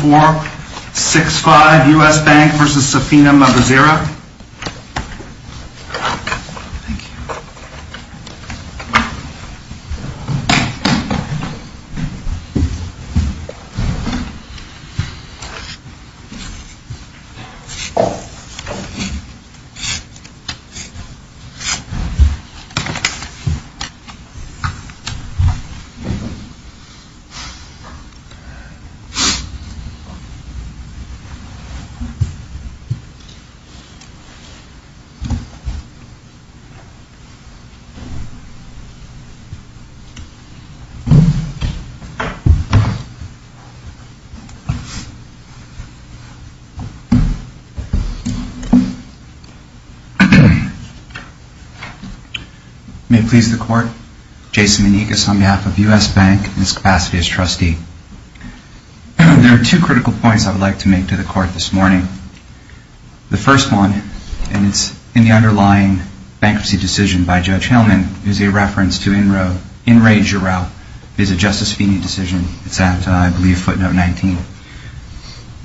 4, 6, 5, US Bank v. Safina Mbazira May it please the Court, Jason Monique is on behalf of US Bank in this capacity as trustee. There are two critical points I would like to make to the Court this morning. The first one, and it's in the underlying bankruptcy decision by Judge Hillman, is a reference to In Re Giroux, a Justice Feeney decision. It's at, I believe, footnote 19.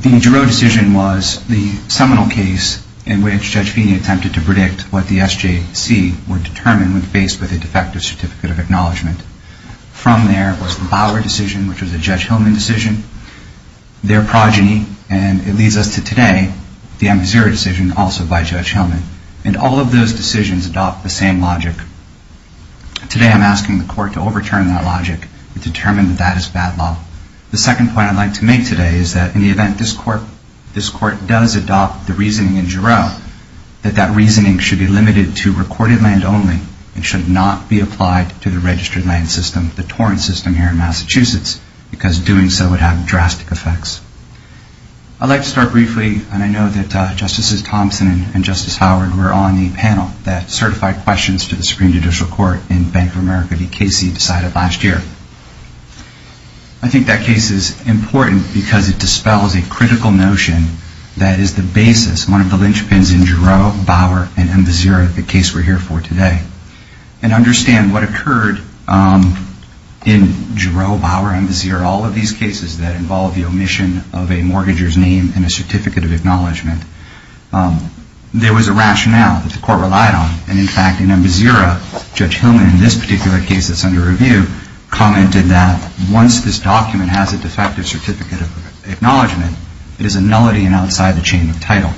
The Giroux decision was the seminal case in which Judge Feeney attempted to predict what the SJC would determine when faced with a defective Certificate of Acknowledgement. From there was the Bauer decision, which was a Judge Hillman decision. Their progeny, and it leads us to today, the Mbazira decision, also by Judge Hillman. And all of those decisions adopt the same logic. Today I'm asking the Court to overturn that logic and determine that that is bad law. The second point I'd like to make today is that in the event this Court does adopt the reasoning in Giroux, that that reasoning should be limited to recorded land only and should not be applied to the registered land system, the torrent system here in Massachusetts, because doing so would have drastic effects. I'd like to start briefly, and I know that Justices Thompson and Justice Howard were on the panel that certified questions to the Supreme Judicial Court in Bank of America v. Casey decided last year. I think that case is important because it dispels a critical notion that is the basis, one of the linchpins in Giroux, Bauer, and Mbazira, the case we're here for today. And understand what occurred in Giroux, Bauer, and Mbazira, all of these cases that involve the omission of a mortgager's name and a Certificate of Acknowledgement. There was a rationale that the Court relied on. And, in fact, in Mbazira, Judge Hillman in this particular case that's under review commented that once this document has a defective Certificate of Acknowledgement, it is a nullity and outside the chain of title.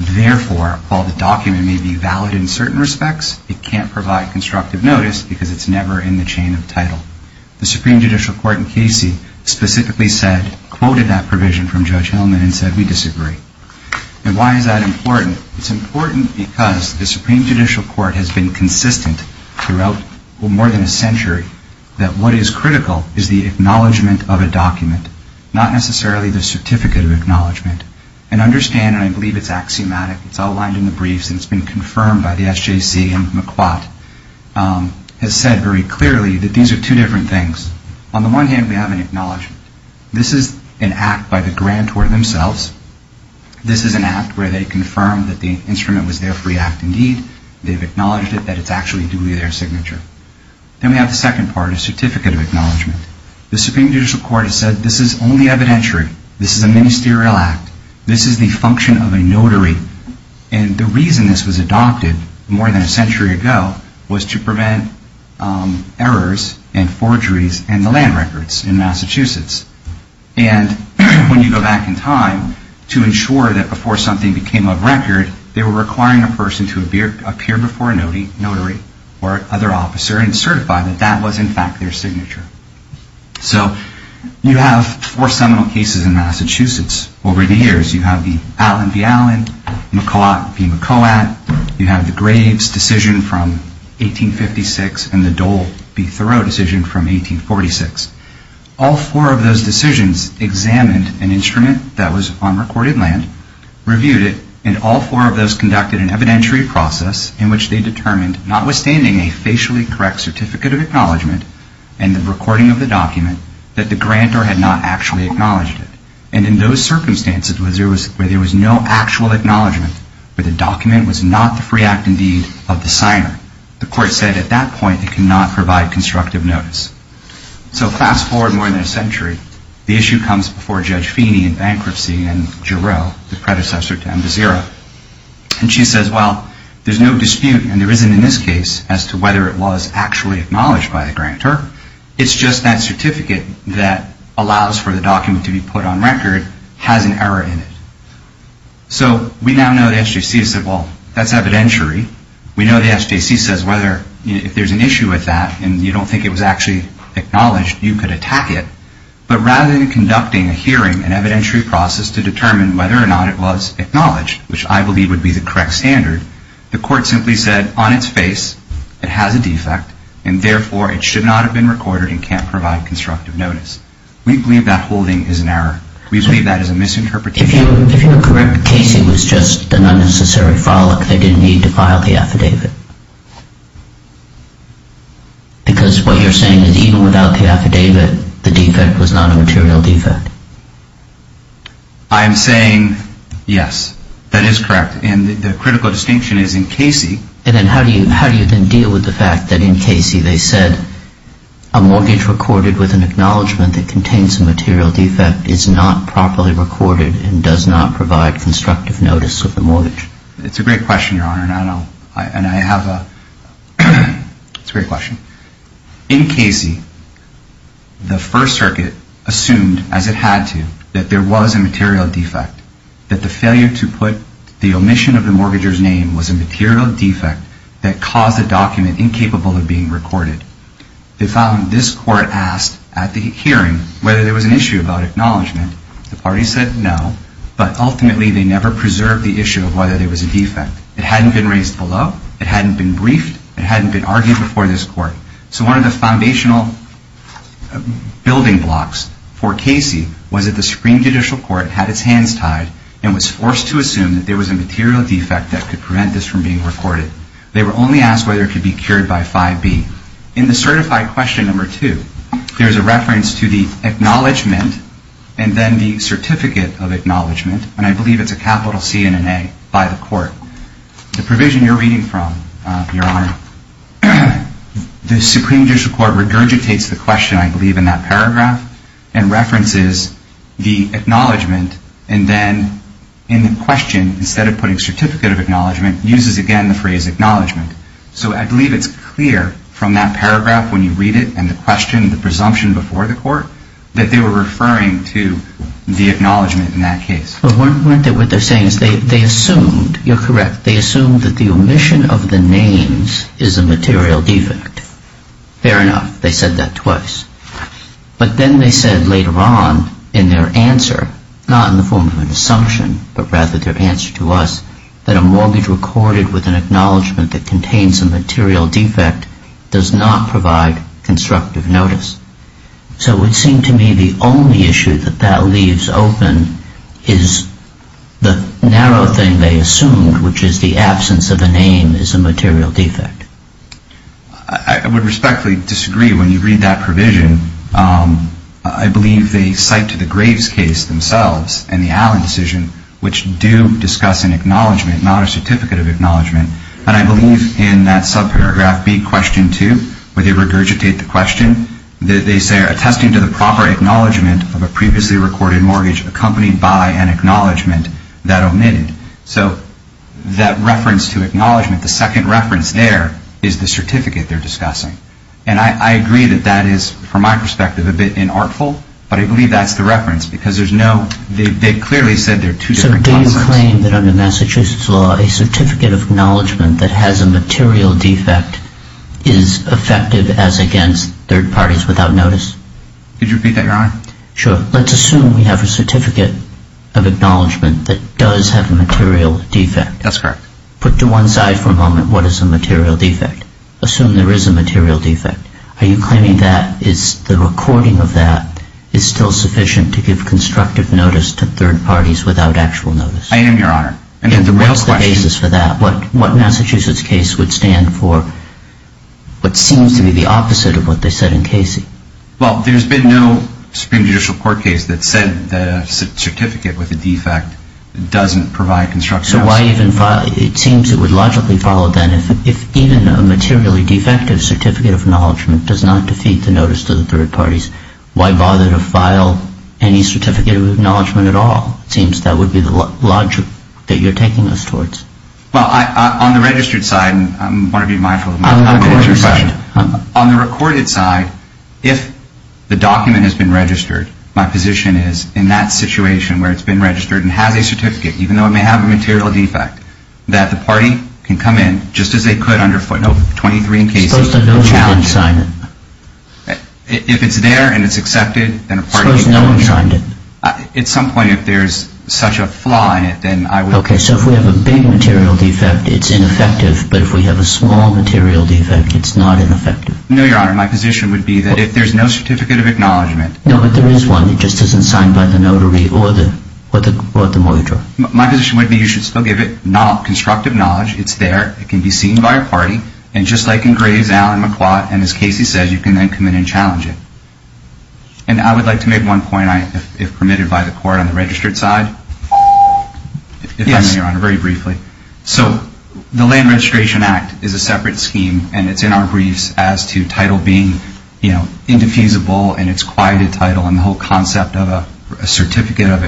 Therefore, while the document may be valid in certain respects, it can't provide constructive notice because it's never in the chain of title. The Supreme Judicial Court in Casey specifically quoted that provision from Judge Hillman and said, we disagree. And why is that important? It's important because the Supreme Judicial Court has been consistent throughout more than a century that what is critical is the acknowledgement of a document, not necessarily the Certificate of Acknowledgement. And understand, and I believe it's axiomatic, it's outlined in the briefs, and it's been confirmed by the SJC and McQuad, has said very clearly that these are two different things. On the one hand, we have an acknowledgement. This is an act by the grantor themselves. This is an act where they confirm that the instrument was their free act indeed. They've acknowledged it, that it's actually duly their signature. Then we have the second part, a Certificate of Acknowledgement. The Supreme Judicial Court has said this is only evidentiary. This is a ministerial act. This is the function of a notary. And the reason this was adopted more than a century ago was to prevent errors and forgeries in the land records in Massachusetts. And when you go back in time to ensure that before something became a record, they were requiring a person to appear before a notary or other officer and certify that that was in fact their signature. So you have four seminal cases in Massachusetts over the years. You have the Allen v. Allen, McQuad v. McQuad. You have the Graves decision from 1856 and the Dole v. Thoreau decision from 1846. All four of those decisions examined an instrument that was on recorded land, reviewed it, and all four of those conducted an evidentiary process in which they determined, notwithstanding a facially correct Certificate of Acknowledgement and the recording of the document, that the grantor had not actually acknowledged it. And in those circumstances where there was no actual acknowledgement, where the document was not the free act, indeed, of the signer, the Court said at that point it could not provide constructive notice. So fast forward more than a century. The issue comes before Judge Feeney in bankruptcy and Jarrell, the predecessor to Mvazira. And she says, well, there's no dispute, and there isn't in this case, as to whether it was actually acknowledged by the grantor. It's just that certificate that allows for the document to be put on record has an error in it. So we now know the SJC has said, well, that's evidentiary. We know the SJC says if there's an issue with that and you don't think it was actually acknowledged, you could attack it. But rather than conducting a hearing, an evidentiary process, to determine whether or not it was acknowledged, which I believe would be the correct standard, the Court simply said on its face it has a defect and therefore it should not have been recorded and can't provide constructive notice. We believe that holding is an error. We believe that is a misinterpretation. If you're correct, Casey was just an unnecessary frolic. They didn't need to file the affidavit. Because what you're saying is even without the affidavit, the defect was not a material defect. I am saying, yes, that is correct. And the critical distinction is in Casey. And then how do you then deal with the fact that in Casey they said, a mortgage recorded with an acknowledgement that contains a material defect is not properly recorded and does not provide constructive notice of the mortgage? It's a great question, Your Honor. It's a great question. In Casey, the First Circuit assumed, as it had to, that there was a material defect, that the failure to put the omission of the mortgager's name was a material defect that caused the document incapable of being recorded. They found this Court asked at the hearing whether there was an issue about acknowledgement. The party said no, but ultimately they never preserved the issue of whether there was a defect. It hadn't been raised below. It hadn't been briefed. It hadn't been argued before this Court. So one of the foundational building blocks for Casey was that the Supreme Judicial Court had its hands tied and was forced to assume that there was a material defect that could prevent this from being recorded. They were only asked whether it could be cured by 5B. In the certified question number two, there's a reference to the acknowledgement and then the certificate of acknowledgement, and I believe it's a capital C and an A by the Court. The provision you're reading from, Your Honor, the Supreme Judicial Court regurgitates the question, I believe, in that paragraph and references the acknowledgement and then in the question, instead of putting certificate of acknowledgement, uses again the phrase acknowledgement. So I believe it's clear from that paragraph when you read it and the question, the presumption before the Court, that they were referring to the acknowledgement in that case. But weren't they, what they're saying is they assumed, you're correct, they assumed that the omission of the names is a material defect. Fair enough. They said that twice. But then they said later on in their answer, not in the form of an assumption, but rather their answer to us, that a mortgage recorded with an acknowledgement that contains a material defect does not provide constructive notice. So it would seem to me the only issue that that leaves open is the narrow thing they assumed, which is the absence of a name is a material defect. I would respectfully disagree when you read that provision. I believe they cite to the Graves case themselves and the Allen decision, which do discuss an acknowledgement, not a certificate of acknowledgement. And I believe in that subparagraph B, question 2, where they regurgitate the question, they say, attesting to the proper acknowledgement of a previously recorded mortgage accompanied by an acknowledgement that omitted. So that reference to acknowledgement, the second reference there is the certificate they're discussing. And I agree that that is, from my perspective, a bit inartful, but I believe that's the reference because there's no, they clearly said there are two different concepts. So do you claim that under Massachusetts law, a certificate of acknowledgement that has a material defect is effective as against third parties without notice? Could you repeat that, Your Honor? Sure. Let's assume we have a certificate of acknowledgement that does have a material defect. That's correct. Put to one side for a moment what is a material defect. Assume there is a material defect. Are you claiming that the recording of that is still sufficient to give constructive notice to third parties without actual notice? I am, Your Honor. And what's the basis for that? What Massachusetts case would stand for what seems to be the opposite of what they said in Casey? Well, there's been no Supreme Judicial Court case that said that a certificate with a defect doesn't provide constructive notice. So why even file, it seems it would logically follow then, if even a materially defective certificate of acknowledgement does not defeat the notice to the third parties, why bother to file any certificate of acknowledgement at all? It seems that would be the logic that you're taking us towards. Well, on the registered side, and I want to be mindful of my answer to your question. On the recorded side, if the document has been registered, my position is in that situation where it's been registered and has a certificate, even though it may have a material defect, that the party can come in just as they could under footnote 23 in Casey. Suppose no one signed it. If it's there and it's accepted, then a party can come in. Suppose no one signed it. At some point, if there's such a flaw in it, then I would... Okay, so if we have a big material defect, it's ineffective. But if we have a small material defect, it's not ineffective. No, Your Honor, my position would be that if there's no certificate of acknowledgement... No, but there is one. It just isn't signed by the notary or the mortgagor. My position would be you should still give it constructive knowledge. It's there. It can be seen by a party. And just like in Graves, Allen, McQuad, and as Casey says, you can then come in and challenge it. And I would like to make one point, if permitted by the court, on the registered side. Yes. If I may, Your Honor, very briefly. So the Land Registration Act is a separate scheme, and it's in our briefs as to title being, you know, indefeasible and it's quite a title and the whole concept of a certificate of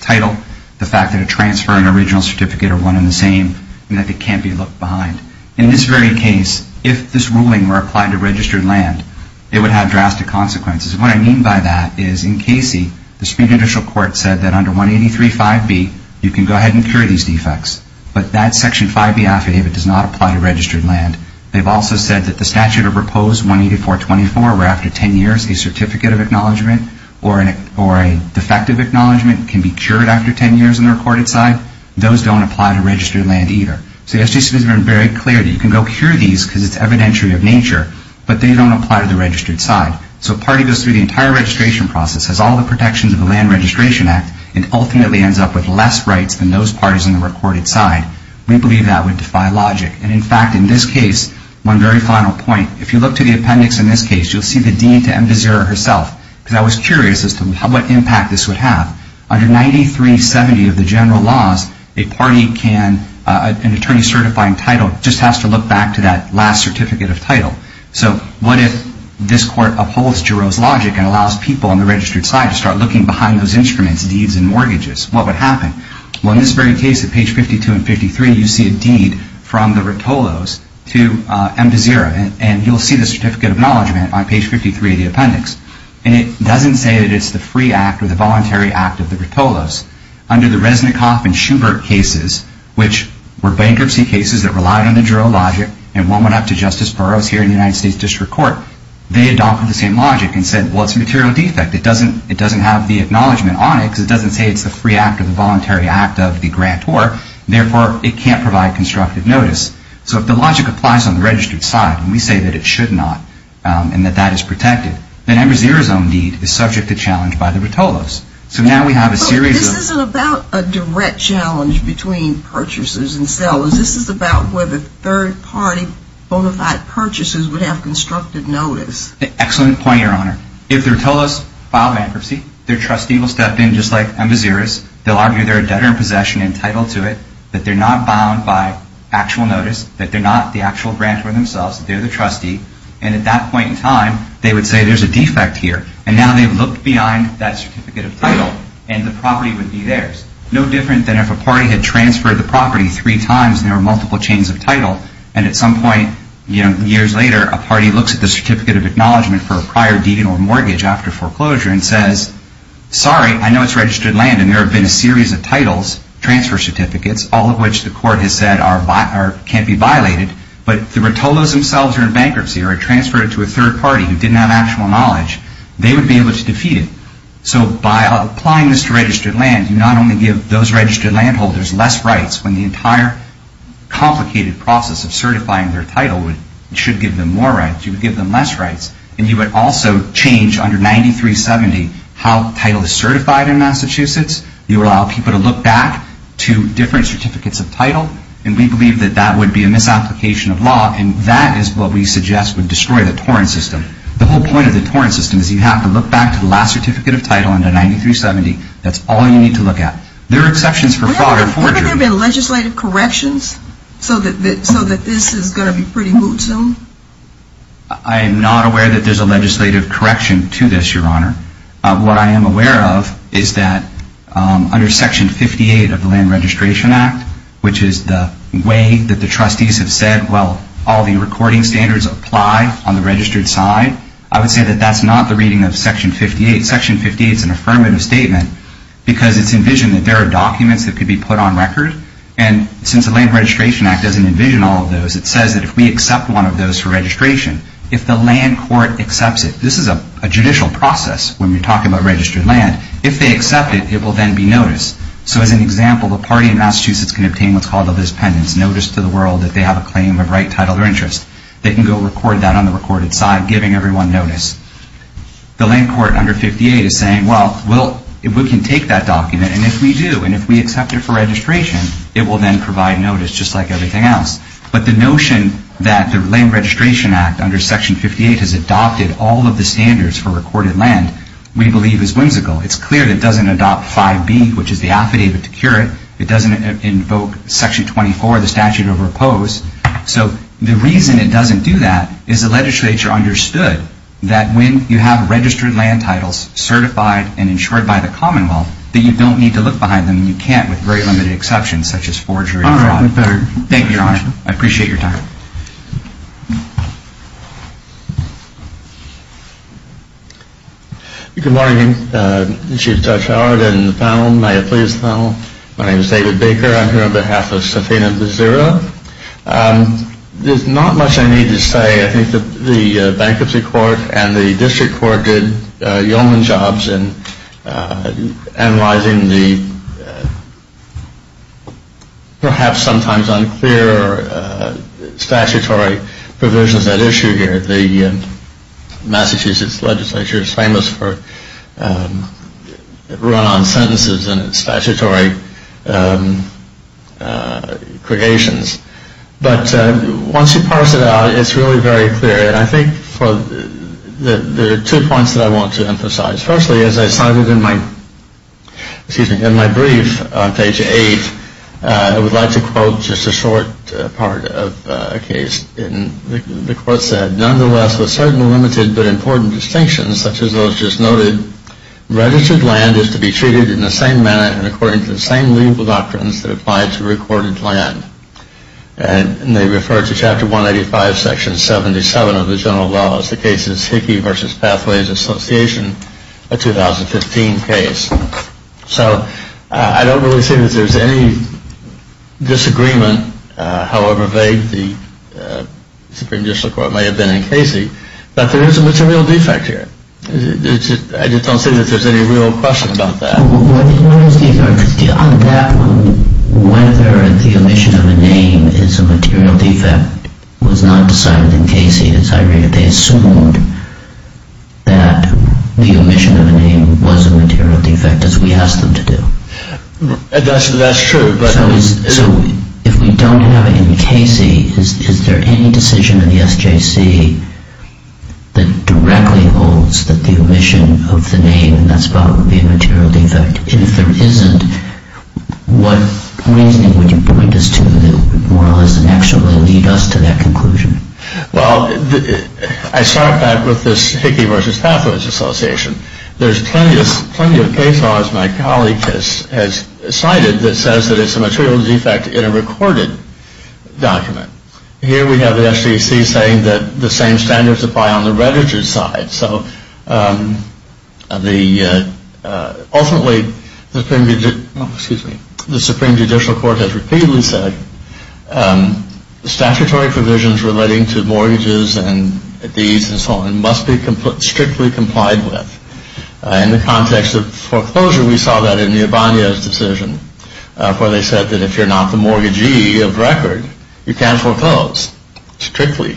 title, the fact that a transfer and original certificate are one and the same, and that they can't be looked behind. In this very case, if this ruling were applied to registered land, it would have drastic consequences. And what I mean by that is in Casey, the Supreme Judicial Court said that under 183.5b, you can go ahead and cure these defects. But that section 5b affidavit does not apply to registered land. They've also said that the statute of proposed 184.24, where after 10 years, a certificate of acknowledgment or a defective acknowledgment can be cured after 10 years on the recorded side, those don't apply to registered land either. So the SGC has been very clear that you can go cure these because it's evidentiary of nature, but they don't apply to the registered side. So a party goes through the entire registration process, has all the protections of the Land Registration Act, and ultimately ends up with less rights than those parties on the recorded side. We believe that would defy logic. And, in fact, in this case, one very final point, if you look to the appendix in this case, you'll see the dean to embezzler herself. Because I was curious as to what impact this would have. Under 9370 of the general laws, a party can, an attorney certifying title, just has to look back to that last certificate of title. So what if this court upholds Jarreau's logic and allows people on the registered side to start looking behind those instruments, deeds and mortgages? What would happen? Well, in this very case, at page 52 and 53, you see a deed from the Rotolos to embezzler. And you'll see the certificate of acknowledgment on page 53 of the appendix. And it doesn't say that it's the free act or the voluntary act of the Rotolos. Under the Resnickhoff and Schubert cases, which were bankruptcy cases that relied on the Jarreau logic and one went up to Justice Burroughs here in the United States District Court, they adopted the same logic and said, well, it's a material defect. It doesn't have the acknowledgment on it because it doesn't say it's the free act or the voluntary act of the grantor. Therefore, it can't provide constructive notice. So if the logic applies on the registered side, and we say that it should not and that that is protected, then embezzler's own deed is subject to challenge by the Rotolos. So now we have a series of... This isn't about a direct challenge between purchasers and sellers. This is about whether third-party, bona fide purchasers would have constructive notice. Excellent point, Your Honor. If the Rotolos file bankruptcy, their trustee will step in just like embezzlers. They'll argue they're a debtor in possession and entitled to it, that they're not bound by actual notice, that they're not the actual grantor themselves. They're the trustee. And at that point in time, they would say there's a defect here. And now they've looked behind that certificate of title and the property would be theirs. It's no different than if a party had transferred the property three times and there were multiple chains of title. And at some point years later, a party looks at the certificate of acknowledgement for a prior deed or mortgage after foreclosure and says, sorry, I know it's registered land and there have been a series of titles, transfer certificates, all of which the court has said can't be violated, but the Rotolos themselves are in bankruptcy or have transferred it to a third party who didn't have actual knowledge. They would be able to defeat it. So by applying this to registered land, you not only give those registered landholders less rights when the entire complicated process of certifying their title should give them more rights. You would give them less rights. And you would also change under 9370 how title is certified in Massachusetts. You would allow people to look back to different certificates of title. And we believe that that would be a misapplication of law. And that is what we suggest would destroy the torrent system. The whole point of the torrent system is you have to look back to the last certificate of title under 9370. That's all you need to look at. There are exceptions for fraud or forgery. Haven't there been legislative corrections so that this is going to be pretty boot-zoomed? I am not aware that there's a legislative correction to this, Your Honor. What I am aware of is that under Section 58 of the Land Registration Act, which is the way that the trustees have said, well, all the recording standards apply on the registered side, I would say that that's not the reading of Section 58. Section 58 is an affirmative statement because it's envisioned that there are documents that could be put on record. And since the Land Registration Act doesn't envision all of those, it says that if we accept one of those for registration, if the land court accepts it, this is a judicial process when you're talking about registered land, if they accept it, it will then be noticed. So as an example, the party in Massachusetts can obtain what's called a dispendence, notice to the world that they have a claim of right, title, or interest. They can go record that on the recorded side, giving everyone notice. The land court under 58 is saying, well, we can take that document, and if we do, and if we accept it for registration, it will then provide notice just like everything else. But the notion that the Land Registration Act under Section 58 has adopted all of the standards for recorded land, we believe is whimsical. It's clear that it doesn't adopt 5B, which is the affidavit to curate. It doesn't invoke Section 24, the statute of repose. So the reason it doesn't do that is the legislature understood that when you have registered land titles certified and insured by the Commonwealth, that you don't need to look behind them, and you can't with very limited exceptions, such as forgery or fraud. Thank you, Your Honor. I appreciate your time. Good morning, Chief Judge Howard and the panel. May it please the panel. My name is David Baker. I'm here on behalf of Safina Bezzera. There's not much I need to say. I think the Bankruptcy Court and the District Court did yeoman jobs in analyzing the perhaps sometimes unclear statutory provisions at issue here. The Massachusetts legislature is famous for run-on sentences and its statutory creations. But once you parse it out, it's really very clear. And I think there are two points that I want to emphasize. Firstly, as I cited in my brief on page 8, I would like to quote just a short part of a case. The quote said, Nonetheless, with certain limited but important distinctions, such as those just noted, registered land is to be treated in the same manner and according to the same legal doctrines that apply to recorded land. And they refer to Chapter 185, Section 77 of the general laws. The case is Hickey v. Pathways Association, a 2015 case. So I don't really see that there's any disagreement. However vague the Supreme Judicial Court may have been in Casey. But there is a material defect here. I just don't see that there's any real question about that. On that one, whether the omission of a name is a material defect was not decided in Casey. They assumed that the omission of a name was a material defect, as we asked them to do. That's true. So if we don't have it in Casey, is there any decision in the SJC that directly holds that the omission of the name and that spot would be a material defect? If there isn't, what reasoning would you point us to that would more or less actually lead us to that conclusion? Well, I start back with this Hickey v. Pathways Association. There's plenty of case laws my colleague has cited that says that it's a material defect in a recorded document. Here we have the SJC saying that the same standards apply on the registered side. So ultimately, the Supreme Judicial Court has repeatedly said statutory provisions relating to mortgages and deeds and so on must be strictly complied with. In the context of foreclosure, we saw that in the Ibanez decision, where they said that if you're not the mortgagee of record, you can't foreclose strictly.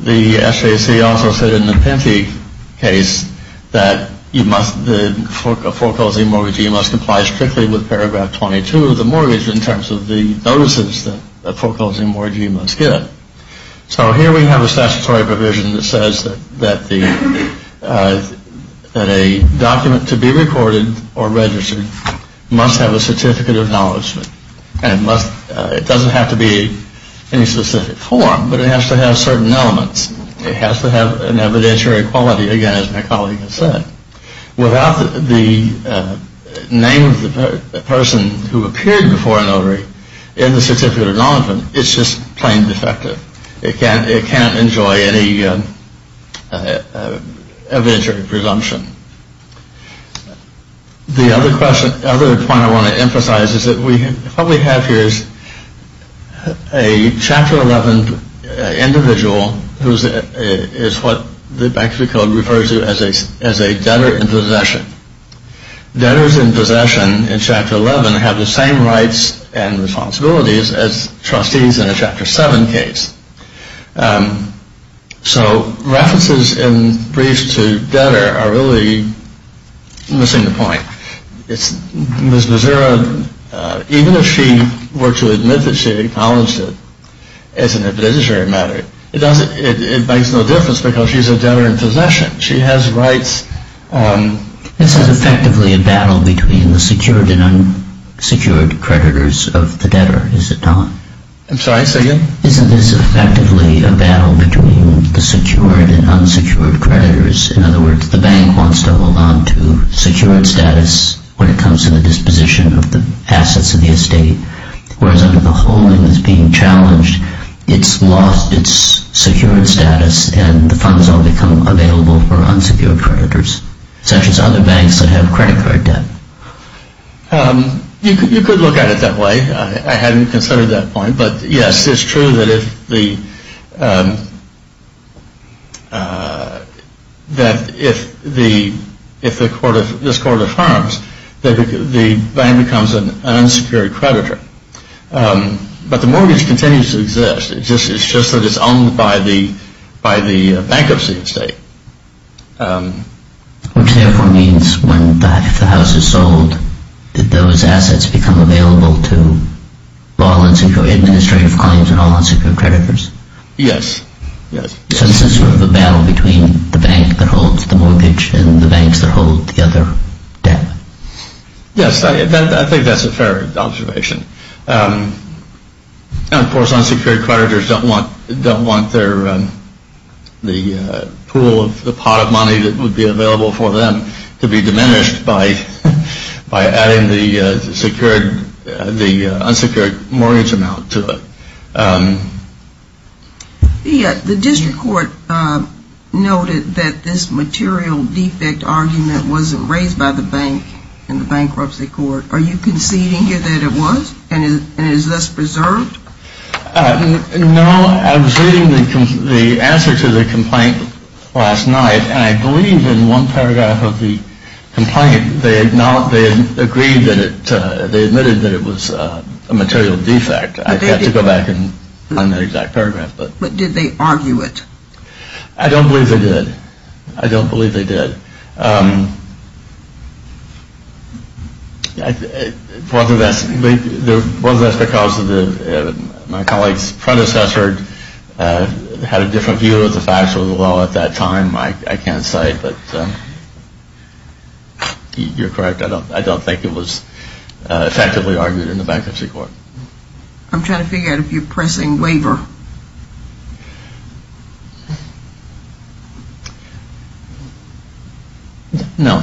The SJC also said in the Pinty case that the foreclosing mortgagee must comply strictly with paragraph 22 of the mortgage in terms of the notices that the foreclosing mortgagee must get. So here we have a statutory provision that says that a document to be recorded or registered must have a certificate of acknowledgement. It doesn't have to be in a specific form, but it has to have certain elements. It has to have an evidentiary quality, again, as my colleague has said. Without the name of the person who appeared before a notary in the certificate of acknowledgement, it's just plain defective. It can't enjoy any evidentiary presumption. The other point I want to emphasize is that what we have here is a Chapter 11 individual who is what the Bankruptcy Code refers to as a debtor in possession. Debtors in possession in Chapter 11 have the same rights and responsibilities as trustees in a Chapter 7 case. So references in briefs to debtor are really missing the point. Ms. Mazura, even if she were to admit that she acknowledged it as an evidentiary matter, it makes no difference because she's a debtor in possession. She has rights. This is effectively a battle between the secured and unsecured creditors of the debtor, is it not? I'm sorry, say again? Isn't this effectively a battle between the secured and unsecured creditors? In other words, the bank wants to hold on to secured status when it comes to the disposition of the assets of the estate, whereas under the holding that's being challenged, it's lost its secured status and the funds all become available for unsecured creditors, such as other banks that have credit card debt. You could look at it that way. I hadn't considered that point, but yes, it's true that if this court affirms that the bank becomes an unsecured creditor, but the mortgage continues to exist. It's just that it's owned by the bankruptcy estate. Which therefore means that if the house is sold, that those assets become available to all unsecured administrative clients and all unsecured creditors? Yes, yes. So this is sort of a battle between the bank that holds the mortgage and the banks that hold the other debt? Yes, I think that's a fair observation. And of course, unsecured creditors don't want the pool of the pot of money that would be available for them to be diminished by adding the unsecured mortgage amount to it. The district court noted that this material defect argument wasn't raised by the bank in the bankruptcy court. Are you conceding that it was? And is this preserved? No, I was reading the answer to the complaint last night, and I believe in one paragraph of the complaint, they admitted that it was a material defect. I'd have to go back and find that exact paragraph. But did they argue it? I don't believe they did. I don't believe they did. Whether that's because my colleague's predecessor had a different view of the facts of the law at that time, I can't say, but you're correct. I don't think it was effectively argued in the bankruptcy court. I'm trying to figure out if you're pressing waiver. No.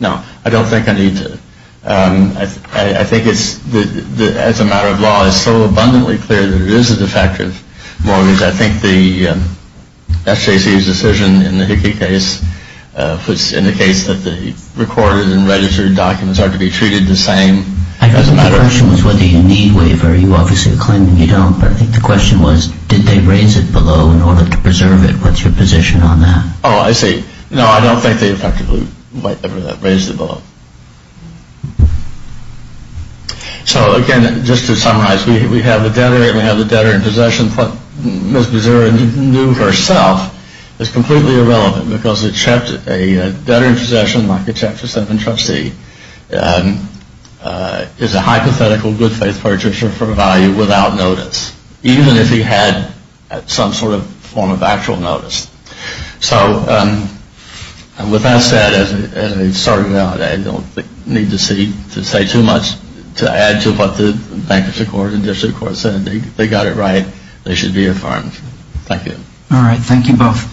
No, I don't think I need to. I think it's, as a matter of law, it's so abundantly clear that it is a defective mortgage. I think the SJC's decision in the Hickey case was in the case that the recorded and registered documents are to be treated the same. I think the question was whether you need waiver. You obviously claim that you don't. But I think the question is whether you need it. My question was, did they raise it below in order to preserve it? What's your position on that? Oh, I see. No, I don't think they effectively raised it below. So, again, just to summarize, we have the debtor and we have the debtor in possession. What Ms. Mazur knew herself is completely irrelevant because a debtor in possession, like a Chapter 7 trustee, is a hypothetical good faith purchaser for value without notice, even if he had some sort of form of actual notice. So, with that said, I don't need to say too much to add to what the bankruptcy court and district court said. They got it right. They should be affirmed. Thank you. All right. Thank you both.